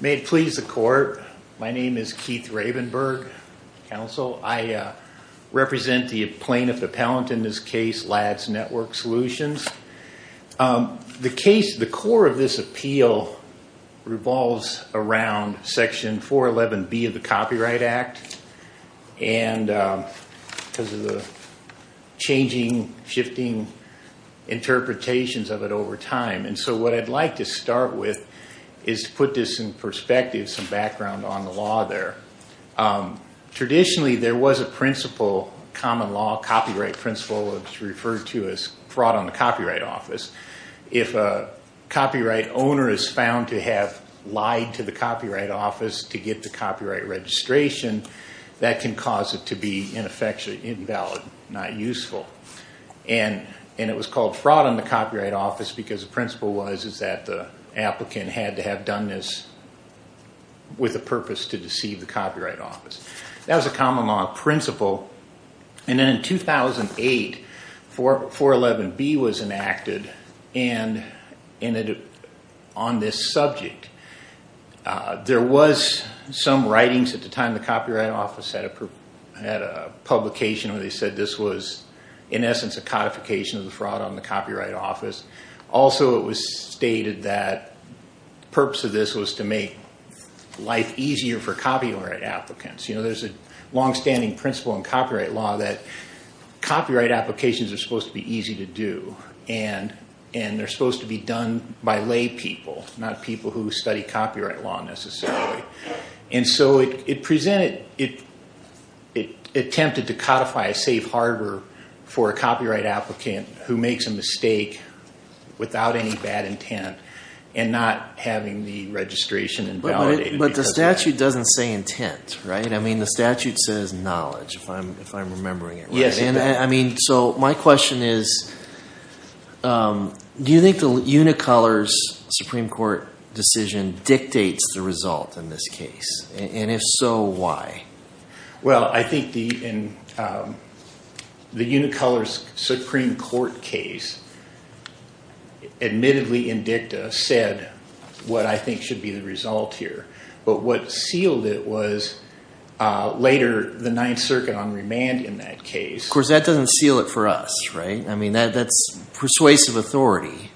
May it please the Court, my name is Keith Ravenberg, Counsel. I represent the plaintiff appellant in this case, LADS Network Solutions. The case, the core of this appeal revolves around Section 411B of the Copyright Act. And because of the changing, shifting interpretations of it over time. And so what I'd like to start with is to put this in perspective, some background on the law there. Traditionally there was a principle, common law copyright principle, referred to as fraud on the copyright office. If a copyright owner is found to have lied to the copyright office to get the copyright registration, that can cause it to be ineffectually invalid, not useful. And it was called fraud on the copyright office because the principle was that the applicant had to have done this with a purpose to deceive the copyright office. That was a common law principle. And then in 2008, 411B was enacted on this subject. There was some writings at the time the Copyright Office had a publication where they said this was in essence a codification of the fraud on the Copyright Office. Also it was stated that the purpose of this was to make life easier for copyright applicants. There's a longstanding principle in copyright law that copyright applications are supposed to be easy to do. And they're supposed to be done by lay people, not people who study copyright law necessarily. And so it presented, it attempted to codify a safe harbor for a copyright applicant who makes a mistake without any bad intent and not having the registration invalidated. But the statute doesn't say intent, right? I mean the statute says knowledge, if I'm remembering it right. So my question is, do you think the Unicolor's Supreme Court decision dictates the result in this case? And if so, why? Well, I think the Unicolor's Supreme Court case admittedly in dicta said what I think should be the result here. But what sealed it was later the Ninth Circuit on remand in that case. Of course that doesn't seal it for us, right? I mean that's persuasive authority.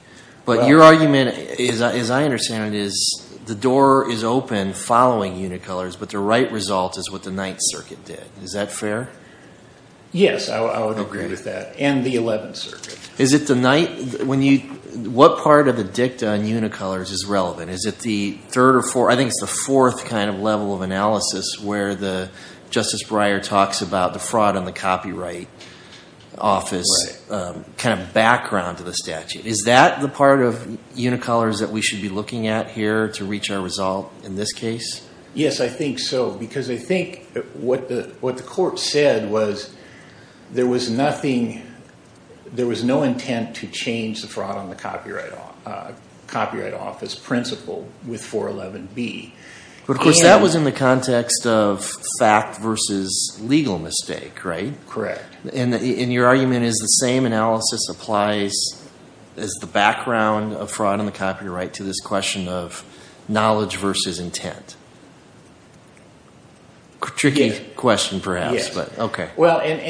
But your argument, as I understand it, is the door is open following Unicolor's, but the right result is what the Ninth Circuit did. Is that fair? Yes, I would agree with that. And the Eleventh Circuit. Is it the Ninth? What part of the dicta on Unicolor's is relevant? Is it the third or fourth? I think it's the fourth kind of level of analysis where Justice Breyer talks about the fraud on the copyright office. Right. Kind of background to the statute. Is that the part of Unicolor's that we should be looking at here to reach our result in this case? Yes, I think so. Because I think what the court said was there was no intent to change the fraud on the copyright office principle with 411B. But of course that was in the context of fact versus legal mistake, right? Correct. And your argument is the same analysis applies as the background of fraud on the copyright to this question of knowledge versus intent. Tricky question perhaps, but okay.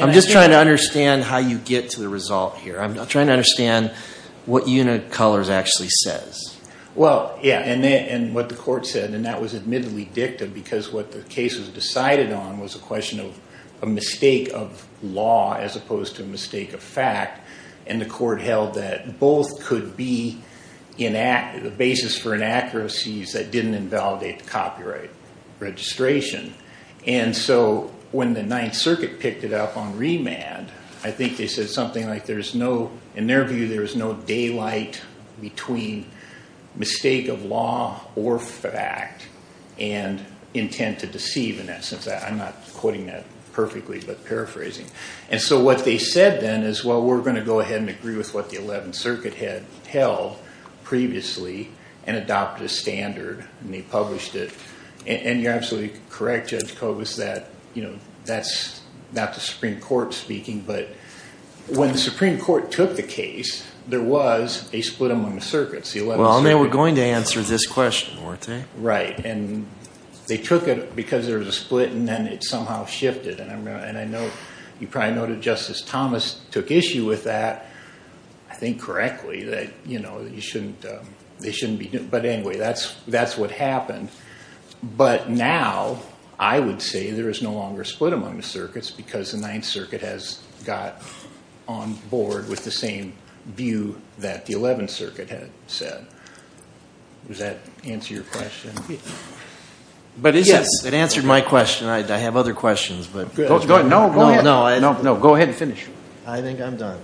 I'm just trying to understand how you get to the result here. I'm trying to understand what Unicolor's actually says. And what the court said, and that was admittedly dicta because what the case was decided on was a question of a mistake of law as opposed to a mistake of fact. And the court held that both could be the basis for inaccuracies that didn't invalidate the copyright registration. And so when the 9th Circuit picked it up on remand, I think they said something like there's no, in their view, there's no daylight between mistake of law or fact and intent to deceive in that sense. I'm not quoting that perfectly, but paraphrasing. And so what they said then is, well, we're going to go ahead and agree with what the 11th Circuit had held previously and adopt a standard. And they published it. And you're absolutely correct, Judge Kogos, that that's not the Supreme Court speaking. But when the Supreme Court took the case, there was a split among the circuits. Well, and they were going to answer this question, weren't they? Right. And they took it because there was a split, and then it somehow shifted. And I know you probably noted Justice Thomas took issue with that, I think correctly, that they shouldn't be. But anyway, that's what happened. But now I would say there is no longer a split among the circuits because the 9th Circuit has got on board with the same view that the 11th Circuit had set. Does that answer your question? But it answered my question. I have other questions. No, go ahead and finish. I think I'm done.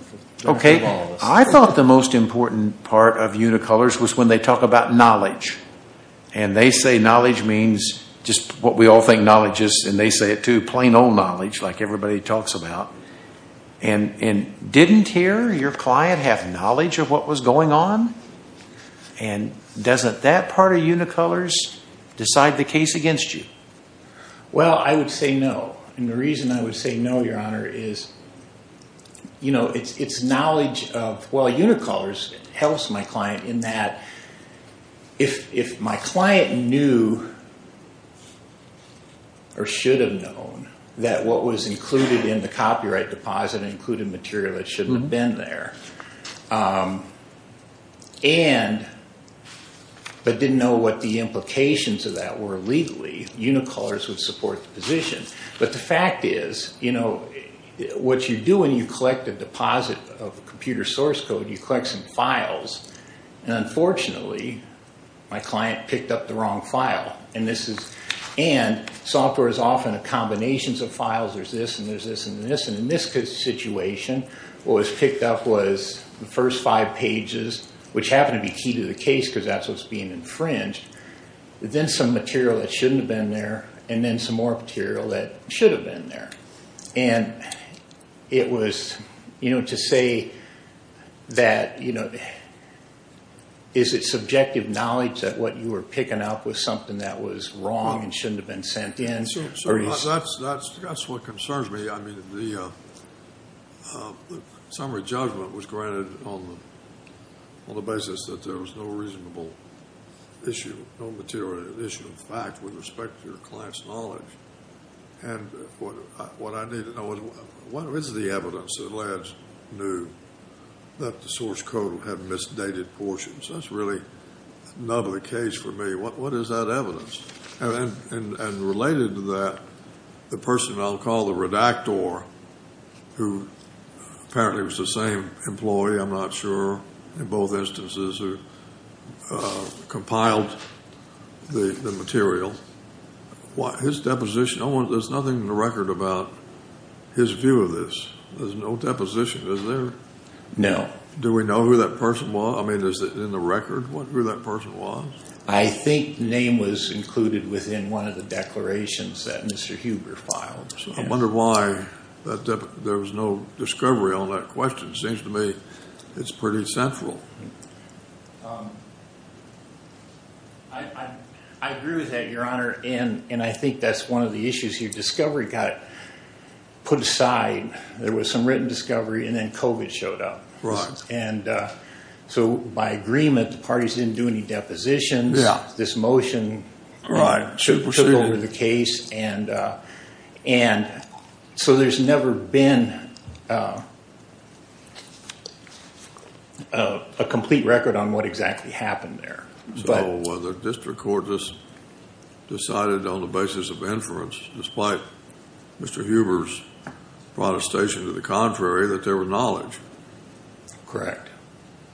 Okay. I thought the most important part of unicolors was when they talk about knowledge. And they say knowledge means just what we all think knowledge is. And they say it, too, plain old knowledge like everybody talks about. And didn't here your client have knowledge of what was going on? And doesn't that part of unicolors decide the case against you? Well, I would say no. And the reason I would say no, Your Honor, is, you know, it's knowledge of, well, unicolors helps my client in that if my client knew or should have known that what was included in the copyright deposit included material that shouldn't have been there, but didn't know what the implications of that were legally, unicolors would support the position. But the fact is, you know, what you do when you collect a deposit of computer source code, you collect some files. And unfortunately, my client picked up the wrong file. And software is often a combination of files. There's this and there's this and this. And in this situation, what was picked up was the first five pages, which happened to be key to the case because that's what's being infringed, then some material that shouldn't have been there, and then some more material that should have been there. And it was, you know, to say that, you know, is it subjective knowledge that what you were picking up was something that was wrong and shouldn't have been sent in? That's what concerns me. I mean, the summary judgment was granted on the basis that there was no reasonable issue, no material issue of fact with respect to your client's knowledge. And what I need to know is what is the evidence that led to that the source code had misdated portions? That's really not the case for me. What is that evidence? And related to that, the person I'll call the redactor, who apparently was the same employee, I'm not sure, in both instances, who compiled the material. His deposition, there's nothing in the record about his view of this. There's no deposition, is there? No. Do we know who that person was? I mean, is it in the record who that person was? I think the name was included within one of the declarations that Mr. Huber filed. I wonder why there was no discovery on that question. It seems to me it's pretty central. I agree with that, Your Honor. And I think that's one of the issues. Your discovery got put aside. There was some written discovery, and then COVID showed up. So by agreement, the parties didn't do any depositions. This motion took over the case. So there's never been a complete record on what exactly happened there. So the district court just decided on the basis of inference, despite Mr. Huber's protestation to the contrary, that there was knowledge. Correct.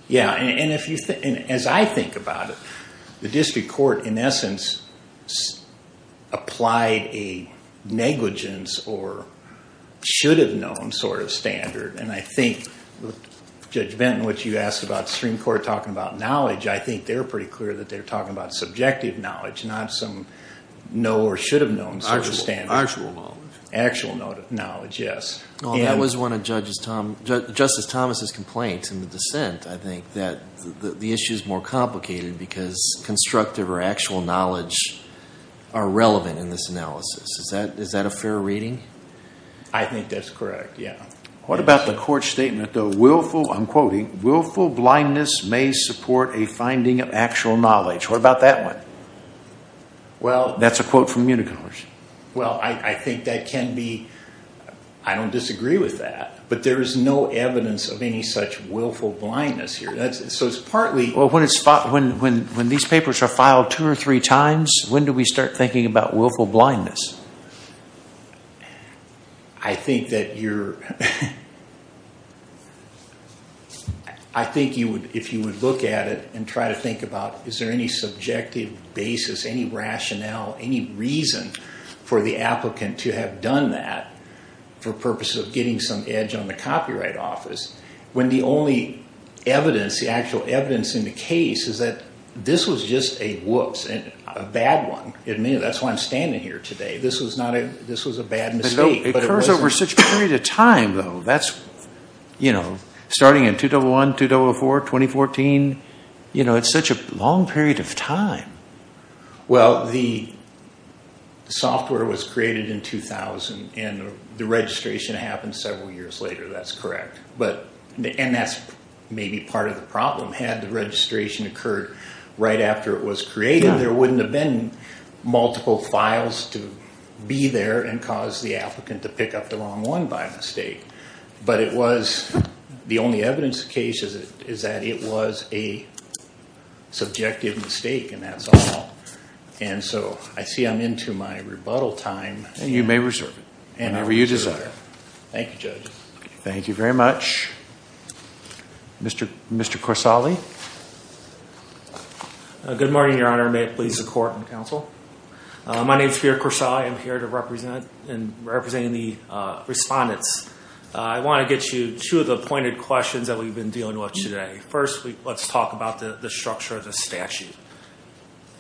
Yeah, and as I think about it, the district court, in essence, applied a negligence or should have known sort of standard. And I think Judge Benton, what you asked about the Supreme Court talking about knowledge, I think they're pretty clear that they're talking about subjective knowledge, not some know or should have known sort of standard. Actual knowledge. Actual knowledge, yes. Well, that was one of Justice Thomas' complaints in the dissent, I think, that the issue is more complicated because constructive or actual knowledge are relevant in this analysis. Is that a fair reading? I think that's correct, yeah. What about the court statement, though, I'm quoting, willful blindness may support a finding of actual knowledge. What about that one? Well— That's a quote from Municommerce. Well, I think that can be—I don't disagree with that. But there is no evidence of any such willful blindness here. So it's partly— Well, when these papers are filed two or three times, when do we start thinking about willful blindness? I think that you're—I think if you would look at it and try to think about is there any subjective basis, any rationale, any reason for the applicant to have done that for purposes of getting some edge on the copyright office, when the only evidence, the actual evidence in the case is that this was just a whoops, a bad one. That's why I'm standing here today. This was not a—this was a bad mistake. But it occurs over such a period of time, though. That's, you know, starting in 2001, 2004, 2014. You know, it's such a long period of time. Well, the software was created in 2000 and the registration happened several years later. That's correct. But—and that's maybe part of the problem. Had the registration occurred right after it was created, there wouldn't have been multiple files to be there and cause the applicant to pick up the wrong one by mistake. But it was—the only evidence of the case is that it was a subjective mistake, and that's all. And so I see I'm into my rebuttal time. And you may reserve it whenever you desire. Thank you, Judge. Thank you very much. Mr. Corsagli. Good morning, Your Honor. May it please the Court and the Counsel. My name is Peter Corsagli. I'm here to represent and represent the respondents. I want to get you to the pointed questions that we've been dealing with today. First, let's talk about the structure of the statute.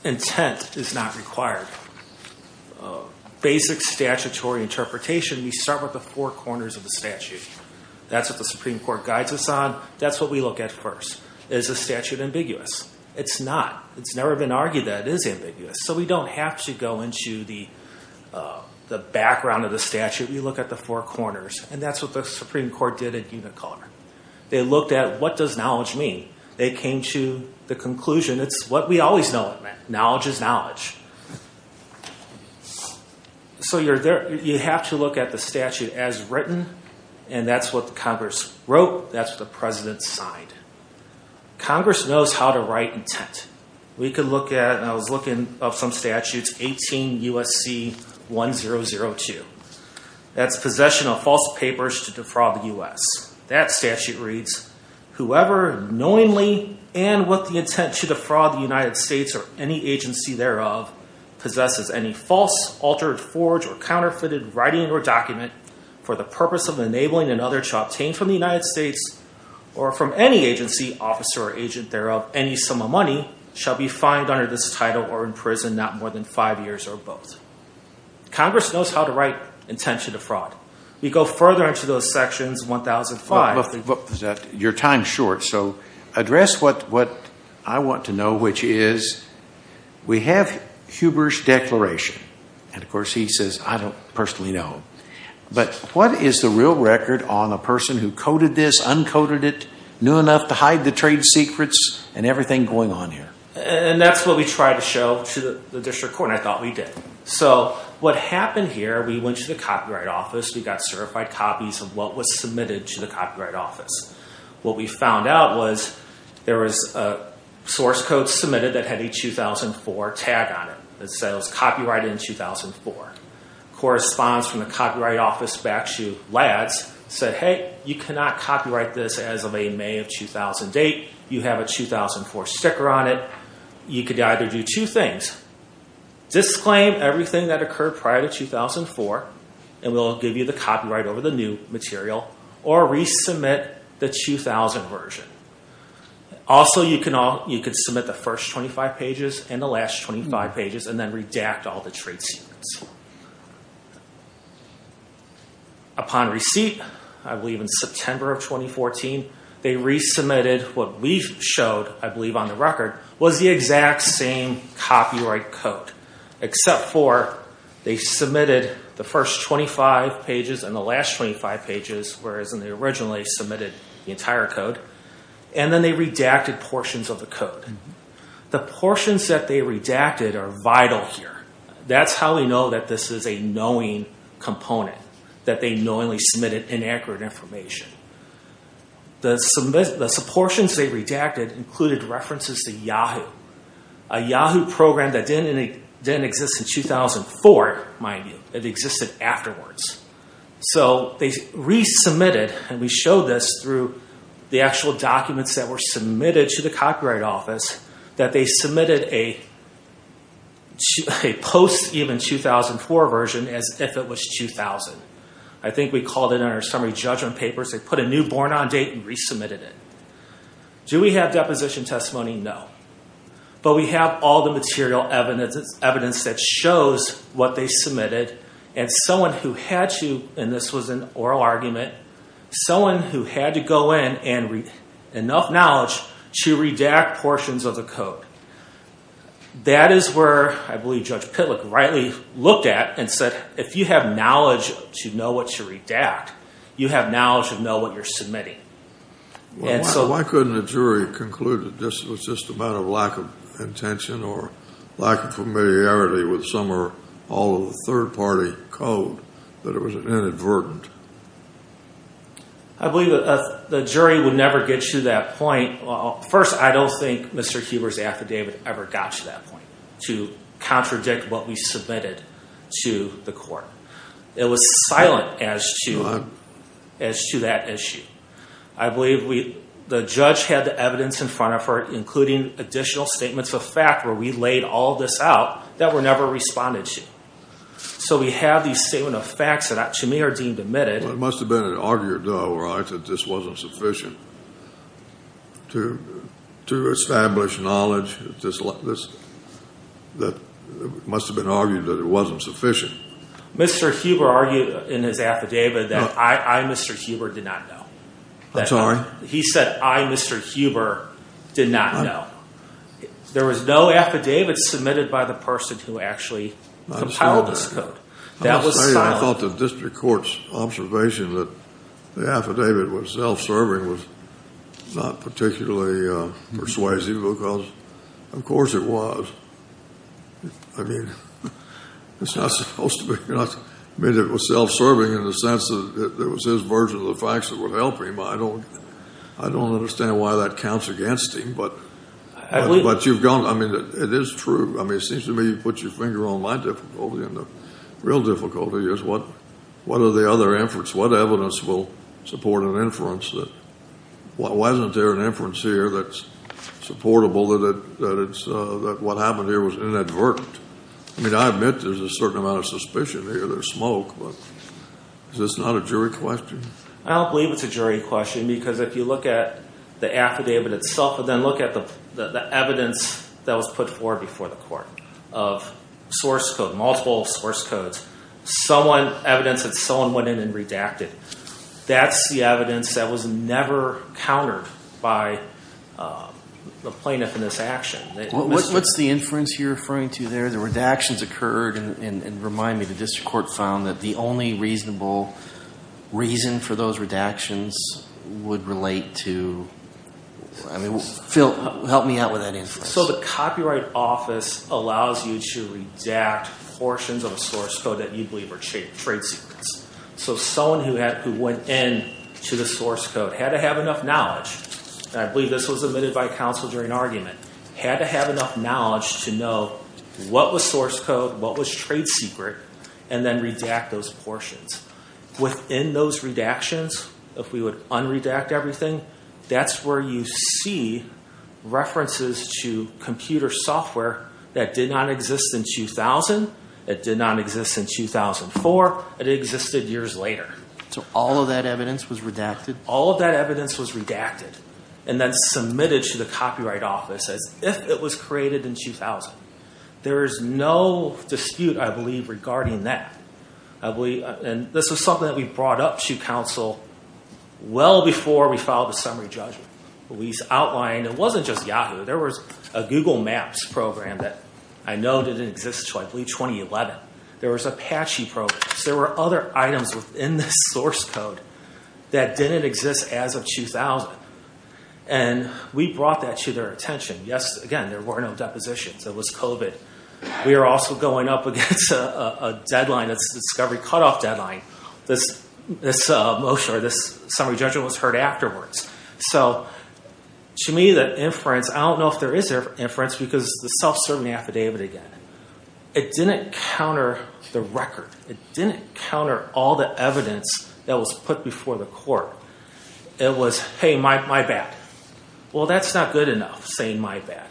Intent is not required. Basic statutory interpretation, we start with the four corners of the statute. That's what the Supreme Court guides us on. That's what we look at first. Is the statute ambiguous? It's not. It's never been argued that it is ambiguous. So we don't have to go into the background of the statute. We look at the four corners, and that's what the Supreme Court did at Unicolor. They looked at what does knowledge mean. They came to the conclusion it's what we always know it meant. Knowledge is knowledge. So you have to look at the statute as written, and that's what Congress wrote. That's what the President signed. Congress knows how to write intent. We could look at, and I was looking up some statutes, 18 U.S.C. 1002. That's possession of false papers to defraud the U.S. That statute reads, whoever knowingly and with the intent to defraud the United States or any agency thereof possesses any false, altered, forged, or counterfeited writing or document for the purpose of enabling another to obtain from the United States or from any agency, officer, or agent thereof any sum of money shall be fined under this title or imprisoned not more than five years or both. Congress knows how to write intent to defraud. We go further into those sections, 1005. Your time is short. So address what I want to know, which is we have Huber's declaration. And, of course, he says, I don't personally know. But what is the real record on a person who coded this, uncoded it, knew enough to hide the trade secrets and everything going on here? And that's what we tried to show to the district court, and I thought we did. So what happened here, we went to the Copyright Office. We got certified copies of what was submitted to the Copyright Office. What we found out was there was a source code submitted that had a 2004 tag on it. It said it was copyrighted in 2004. It corresponds from the Copyright Office back to LADS. It said, hey, you cannot copyright this as of a May of 2000 date. You have a 2004 sticker on it. You could either do two things, disclaim everything that occurred prior to 2004, and we'll give you the copyright over the new material, or resubmit the 2000 version. Also, you could submit the first 25 pages and the last 25 pages and then redact all the trade secrets. Upon receipt, I believe in September of 2014, they resubmitted what we showed, I believe on the record, was the exact same copyright code, except for they submitted the first 25 pages and the last 25 pages, whereas they originally submitted the entire code, and then they redacted portions of the code. The portions that they redacted are vital here. That's how we know that this is a knowing component, that they knowingly submitted inaccurate information. The portions they redacted included references to Yahoo, a Yahoo program that didn't exist in 2004, mind you. It existed afterwards. So they resubmitted, and we showed this through the actual documents that were submitted to the Copyright Office, that they submitted a post-even 2004 version as if it was 2000. I think we called it in our summary judgment papers, they put a new born on date and resubmitted it. Do we have deposition testimony? No. But we have all the material evidence that shows what they submitted, and someone who had to, and this was an oral argument, someone who had to go in and read enough knowledge to redact portions of the code. That is where I believe Judge Pitlick rightly looked at and said, if you have knowledge to know what to redact, you have knowledge to know what you're submitting. Why couldn't the jury conclude it was just a matter of lack of intention or lack of familiarity with some or all of the third-party code, that it was inadvertent? I believe the jury would never get to that point. First, I don't think Mr. Huber's affidavit ever got to that point, to contradict what we submitted to the court. It was silent as to that issue. I believe the judge had the evidence in front of her, including additional statements of fact where we laid all this out, that were never responded to. So we have these statement of facts that to me are deemed admitted. It must have been argued, though, right, that this wasn't sufficient to establish knowledge, that it must have been argued that it wasn't sufficient. Mr. Huber argued in his affidavit that I, Mr. Huber, did not know. I'm sorry? He said, I, Mr. Huber, did not know. There was no affidavit submitted by the person who actually compiled this code. That was silent. I thought the district court's observation that the affidavit was self-serving was not particularly persuasive, because of course it was. I mean, it's not supposed to be. I mean, it was self-serving in the sense that it was his version of the facts that would help him. I don't understand why that counts against him. But you've gone. I mean, it is true. I mean, it seems to me you've put your finger on my difficulty, and the real difficulty is what are the other inference? What evidence will support an inference that wasn't there an inference here that's supportable, that what happened here was inadvertent? I mean, I admit there's a certain amount of suspicion here. There's smoke, but is this not a jury question? I don't believe it's a jury question, because if you look at the affidavit itself and then look at the evidence that was put forward before the court of source code, multiple source codes, evidence that someone went in and redacted, that's the evidence that was never countered by the plaintiff in this action. What's the inference you're referring to there? The redactions occurred. And remind me, the district court found that the only reasonable reason for those redactions would relate to? I mean, help me out with that inference. So the Copyright Office allows you to redact portions of a source code that you believe are trade secrets. So someone who went in to the source code had to have enough knowledge, and I believe this was admitted by counsel during argument, had to have enough knowledge to know what was source code, what was trade secret, and then redact those portions. Within those redactions, if we would unredact everything, that's where you see references to computer software that did not exist in 2000, it did not exist in 2004, it existed years later. So all of that evidence was redacted? All of that evidence was redacted and then submitted to the Copyright Office as if it was created in 2000. There is no dispute, I believe, regarding that. And this was something that we brought up to counsel well before we filed the summary judgment. We outlined, it wasn't just Yahoo, there was a Google Maps program that I know didn't exist until, I believe, 2011. There was Apache programs. There were other items within this source code that didn't exist as of 2000. And we brought that to their attention. Yes, again, there were no depositions. It was COVID. We were also going up against a deadline, a discovery cutoff deadline. This motion or this summary judgment was heard afterwards. So to me, the inference, I don't know if there is an inference because the self-certainty affidavit again, it didn't counter the record. It didn't counter all the evidence that was put before the court. It was, hey, my bad. Well, that's not good enough saying my bad.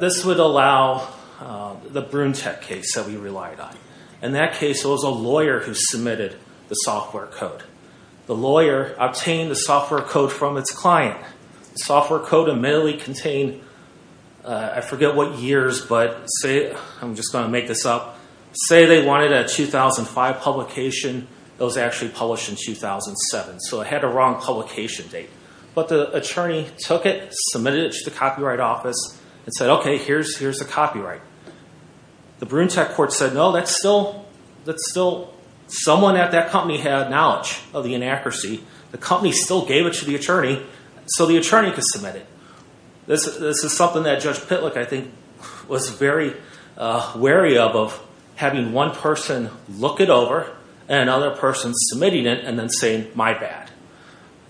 This would allow the Brunetech case that we relied on. In that case, it was a lawyer who submitted the software code. The lawyer obtained the software code from its client. The software code admittedly contained, I forget what years, but I'm just going to make this up. Say they wanted a 2005 publication. It was actually published in 2007. So it had a wrong publication date. But the attorney took it, submitted it to the Copyright Office, and said, okay, here's the copyright. The Brunetech court said, no, that's still someone at that company had knowledge of the inaccuracy. The company still gave it to the attorney so the attorney could submit it. This is something that Judge Pitlick, I think, was very wary of, of having one person look it over and another person submitting it and then saying, my bad.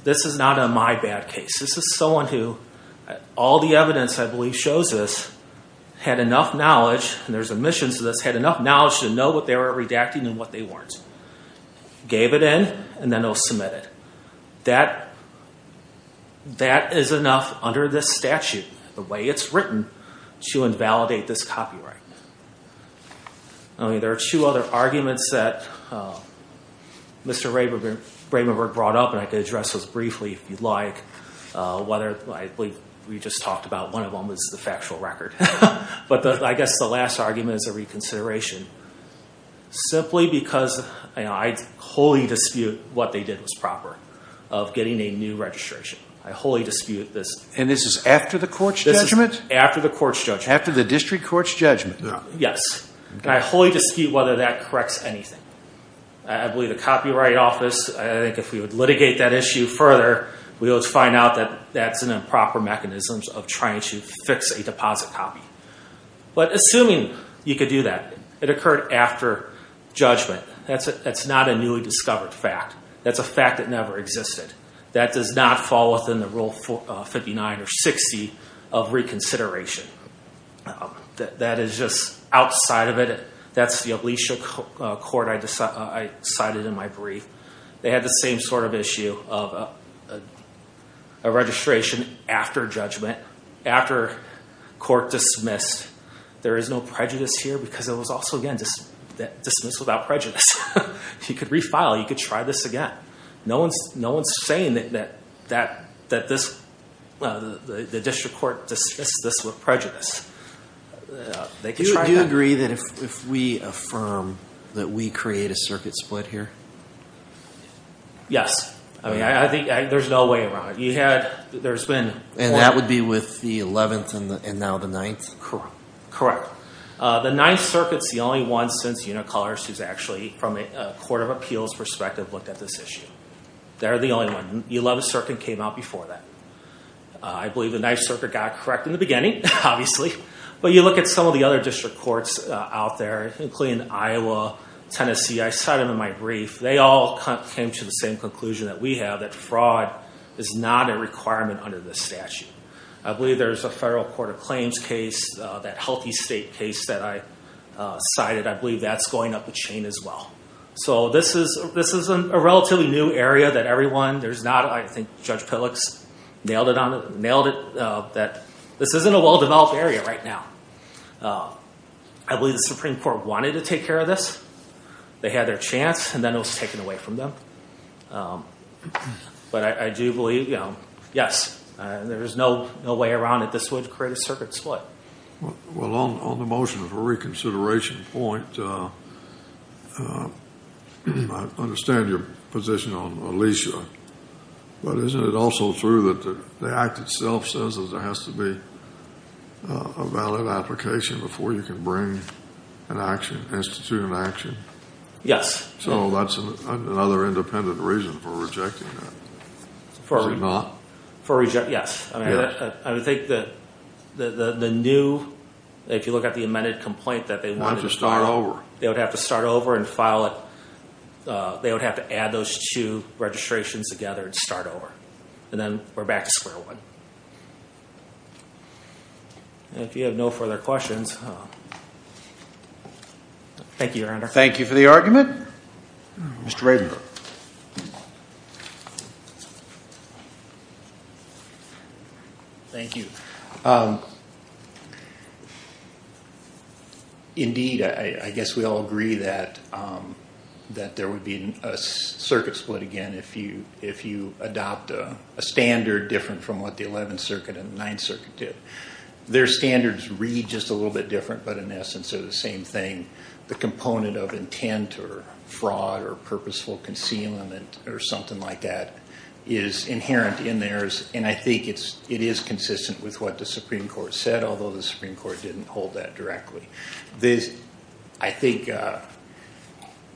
This is not a my bad case. This is someone who all the evidence, I believe, shows this, had enough knowledge, and there's omissions to this, had enough knowledge to know what they were redacting and what they weren't. Gave it in, and then they'll submit it. That is enough under this statute, the way it's written, to invalidate this copyright. There are two other arguments that Mr. Ravenberg brought up, and I could address those briefly if you'd like. I believe we just talked about one of them was the factual record. But I guess the last argument is a reconsideration. Simply because I wholly dispute what they did was proper of getting a new registration. I wholly dispute this. And this is after the court's judgment? This is after the court's judgment. After the district court's judgment. Yes. And I wholly dispute whether that corrects anything. I believe the Copyright Office, I think if we would litigate that issue further, we would find out that that's an improper mechanism of trying to fix a deposit copy. But assuming you could do that, it occurred after judgment, that's not a newly discovered fact. That's a fact that never existed. That does not fall within the Rule 59 or 60 of reconsideration. That is just outside of it. That's the Alicia court I cited in my brief. They had the same sort of issue of a registration after judgment, after court dismissed. There is no prejudice here because it was also, again, dismissed without prejudice. If you could refile, you could try this again. No one's saying that the district court dismissed this with prejudice. Do you agree that if we affirm that we create a circuit split here? Yes. I think there's no way around it. And that would be with the 11th and now the 9th? Correct. The 9th Circuit's the only one since Unicolors who's actually, from a court of appeals perspective, looked at this issue. They're the only one. The 11th Circuit came out before that. I believe the 9th Circuit got it correct in the beginning, obviously. But you look at some of the other district courts out there, including Iowa, Tennessee, I cited them in my brief. They all came to the same conclusion that we have, that fraud is not a requirement under this statute. I believe there's a federal court of claims case, that healthy state case that I cited. I believe that's going up a chain as well. So this is a relatively new area that everyone, there's not, I think Judge Pillicks nailed it on it, that this isn't a well-developed area right now. I believe the Supreme Court wanted to take care of this. They had their chance, and then it was taken away from them. But I do believe, yes, there's no way around it. This would create a circuit split. Well, on the motion for reconsideration point, I understand your position on Alicia. But isn't it also true that the act itself says that there has to be a valid application before you can bring an action, institute an action? So that's another independent reason for rejecting that. Is it not? For rejecting, yes. I would think that the new, if you look at the amended complaint, that they wanted to start over. They would have to start over and file it. They would have to add those two registrations together and start over. And then we're back to square one. If you have no further questions, thank you, Your Honor. Thank you for the argument. Mr. Ravenberg. Thank you. Indeed, I guess we all agree that there would be a circuit split again if you adopt a standard different from what the 11th Circuit and 9th Circuit did. Their standards read just a little bit different, but in essence they're the same thing. The component of intent or fraud or purposeful concealment or something like that is inherent in theirs. And I think it is consistent with what the Supreme Court said, although the Supreme Court didn't hold that directly. I think,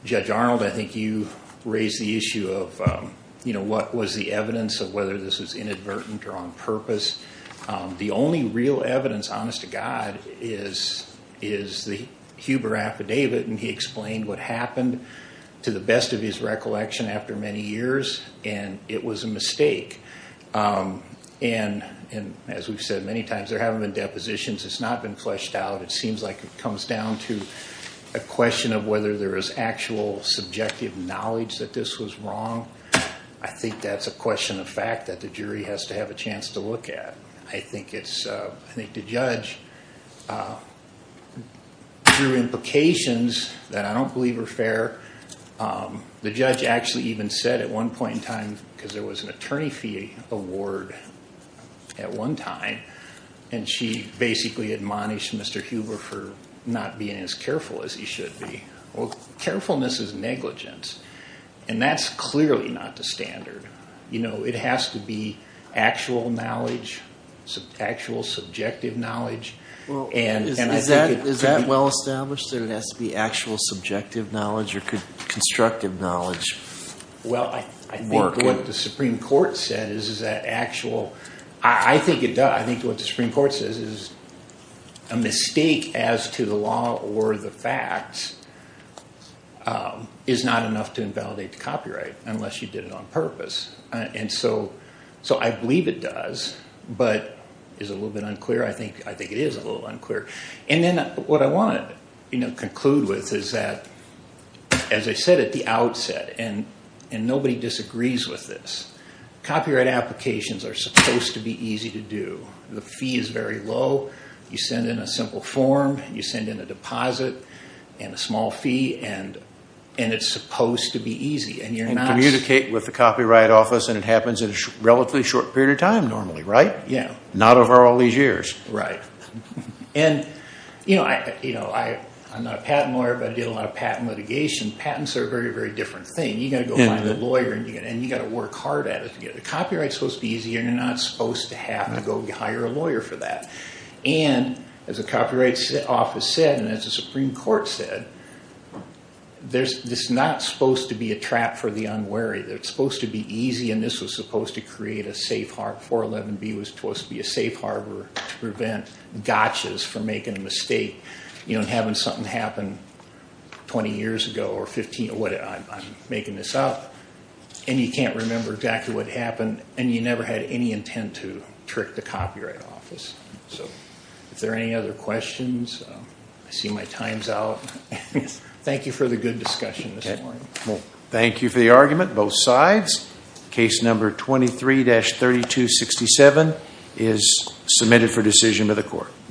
Judge Arnold, I think you raised the issue of, you know, what was the evidence of whether this was inadvertent or on purpose. The only real evidence, honest to God, is the Huber affidavit, and he explained what happened to the best of his recollection after many years, and it was a mistake. And as we've said many times, there haven't been depositions. It's not been fleshed out. It seems like it comes down to a question of whether there is actual subjective knowledge that this was wrong. I think that's a question of fact that the jury has to have a chance to look at. I think the judge drew implications that I don't believe are fair. The judge actually even said at one point in time, because there was an attorney fee award at one time, and she basically admonished Mr. Huber for not being as careful as he should be. Well, carefulness is negligence, and that's clearly not the standard. You know, it has to be actual knowledge, actual subjective knowledge. Is that well established, that it has to be actual subjective knowledge or constructive knowledge? Well, I think what the Supreme Court said is that actual, I think it does. I think what the Supreme Court says is a mistake as to the law or the facts is not enough to invalidate the copyright unless you did it on purpose. And so I believe it does, but is it a little bit unclear? I think it is a little unclear. And then what I want to conclude with is that, as I said at the outset, and nobody disagrees with this, copyright applications are supposed to be easy to do. The fee is very low. You send in a simple form. You send in a deposit and a small fee, and it's supposed to be easy. And communicate with the copyright office, and it happens in a relatively short period of time normally, right? Yeah. Not over all these years. Right. And, you know, I'm not a patent lawyer, but I did a lot of patent litigation. Patents are a very, very different thing. You've got to go find a lawyer, and you've got to work hard at it. Copyright is supposed to be easy, and you're not supposed to have to go hire a lawyer for that. And, as the copyright office said, and as the Supreme Court said, this is not supposed to be a trap for the unwary. It's supposed to be easy, and this was supposed to create a safe harbor. 411B was supposed to be a safe harbor to prevent gotchas from making a mistake. You know, having something happen 20 years ago, or 15, I'm making this up, and you can't remember exactly what happened, and you never had any intent to trick the copyright office. So, if there are any other questions, I see my time's out. Thank you for the good discussion this morning. Thank you for the argument, both sides. Case number 23-3267 is submitted for decision by the court.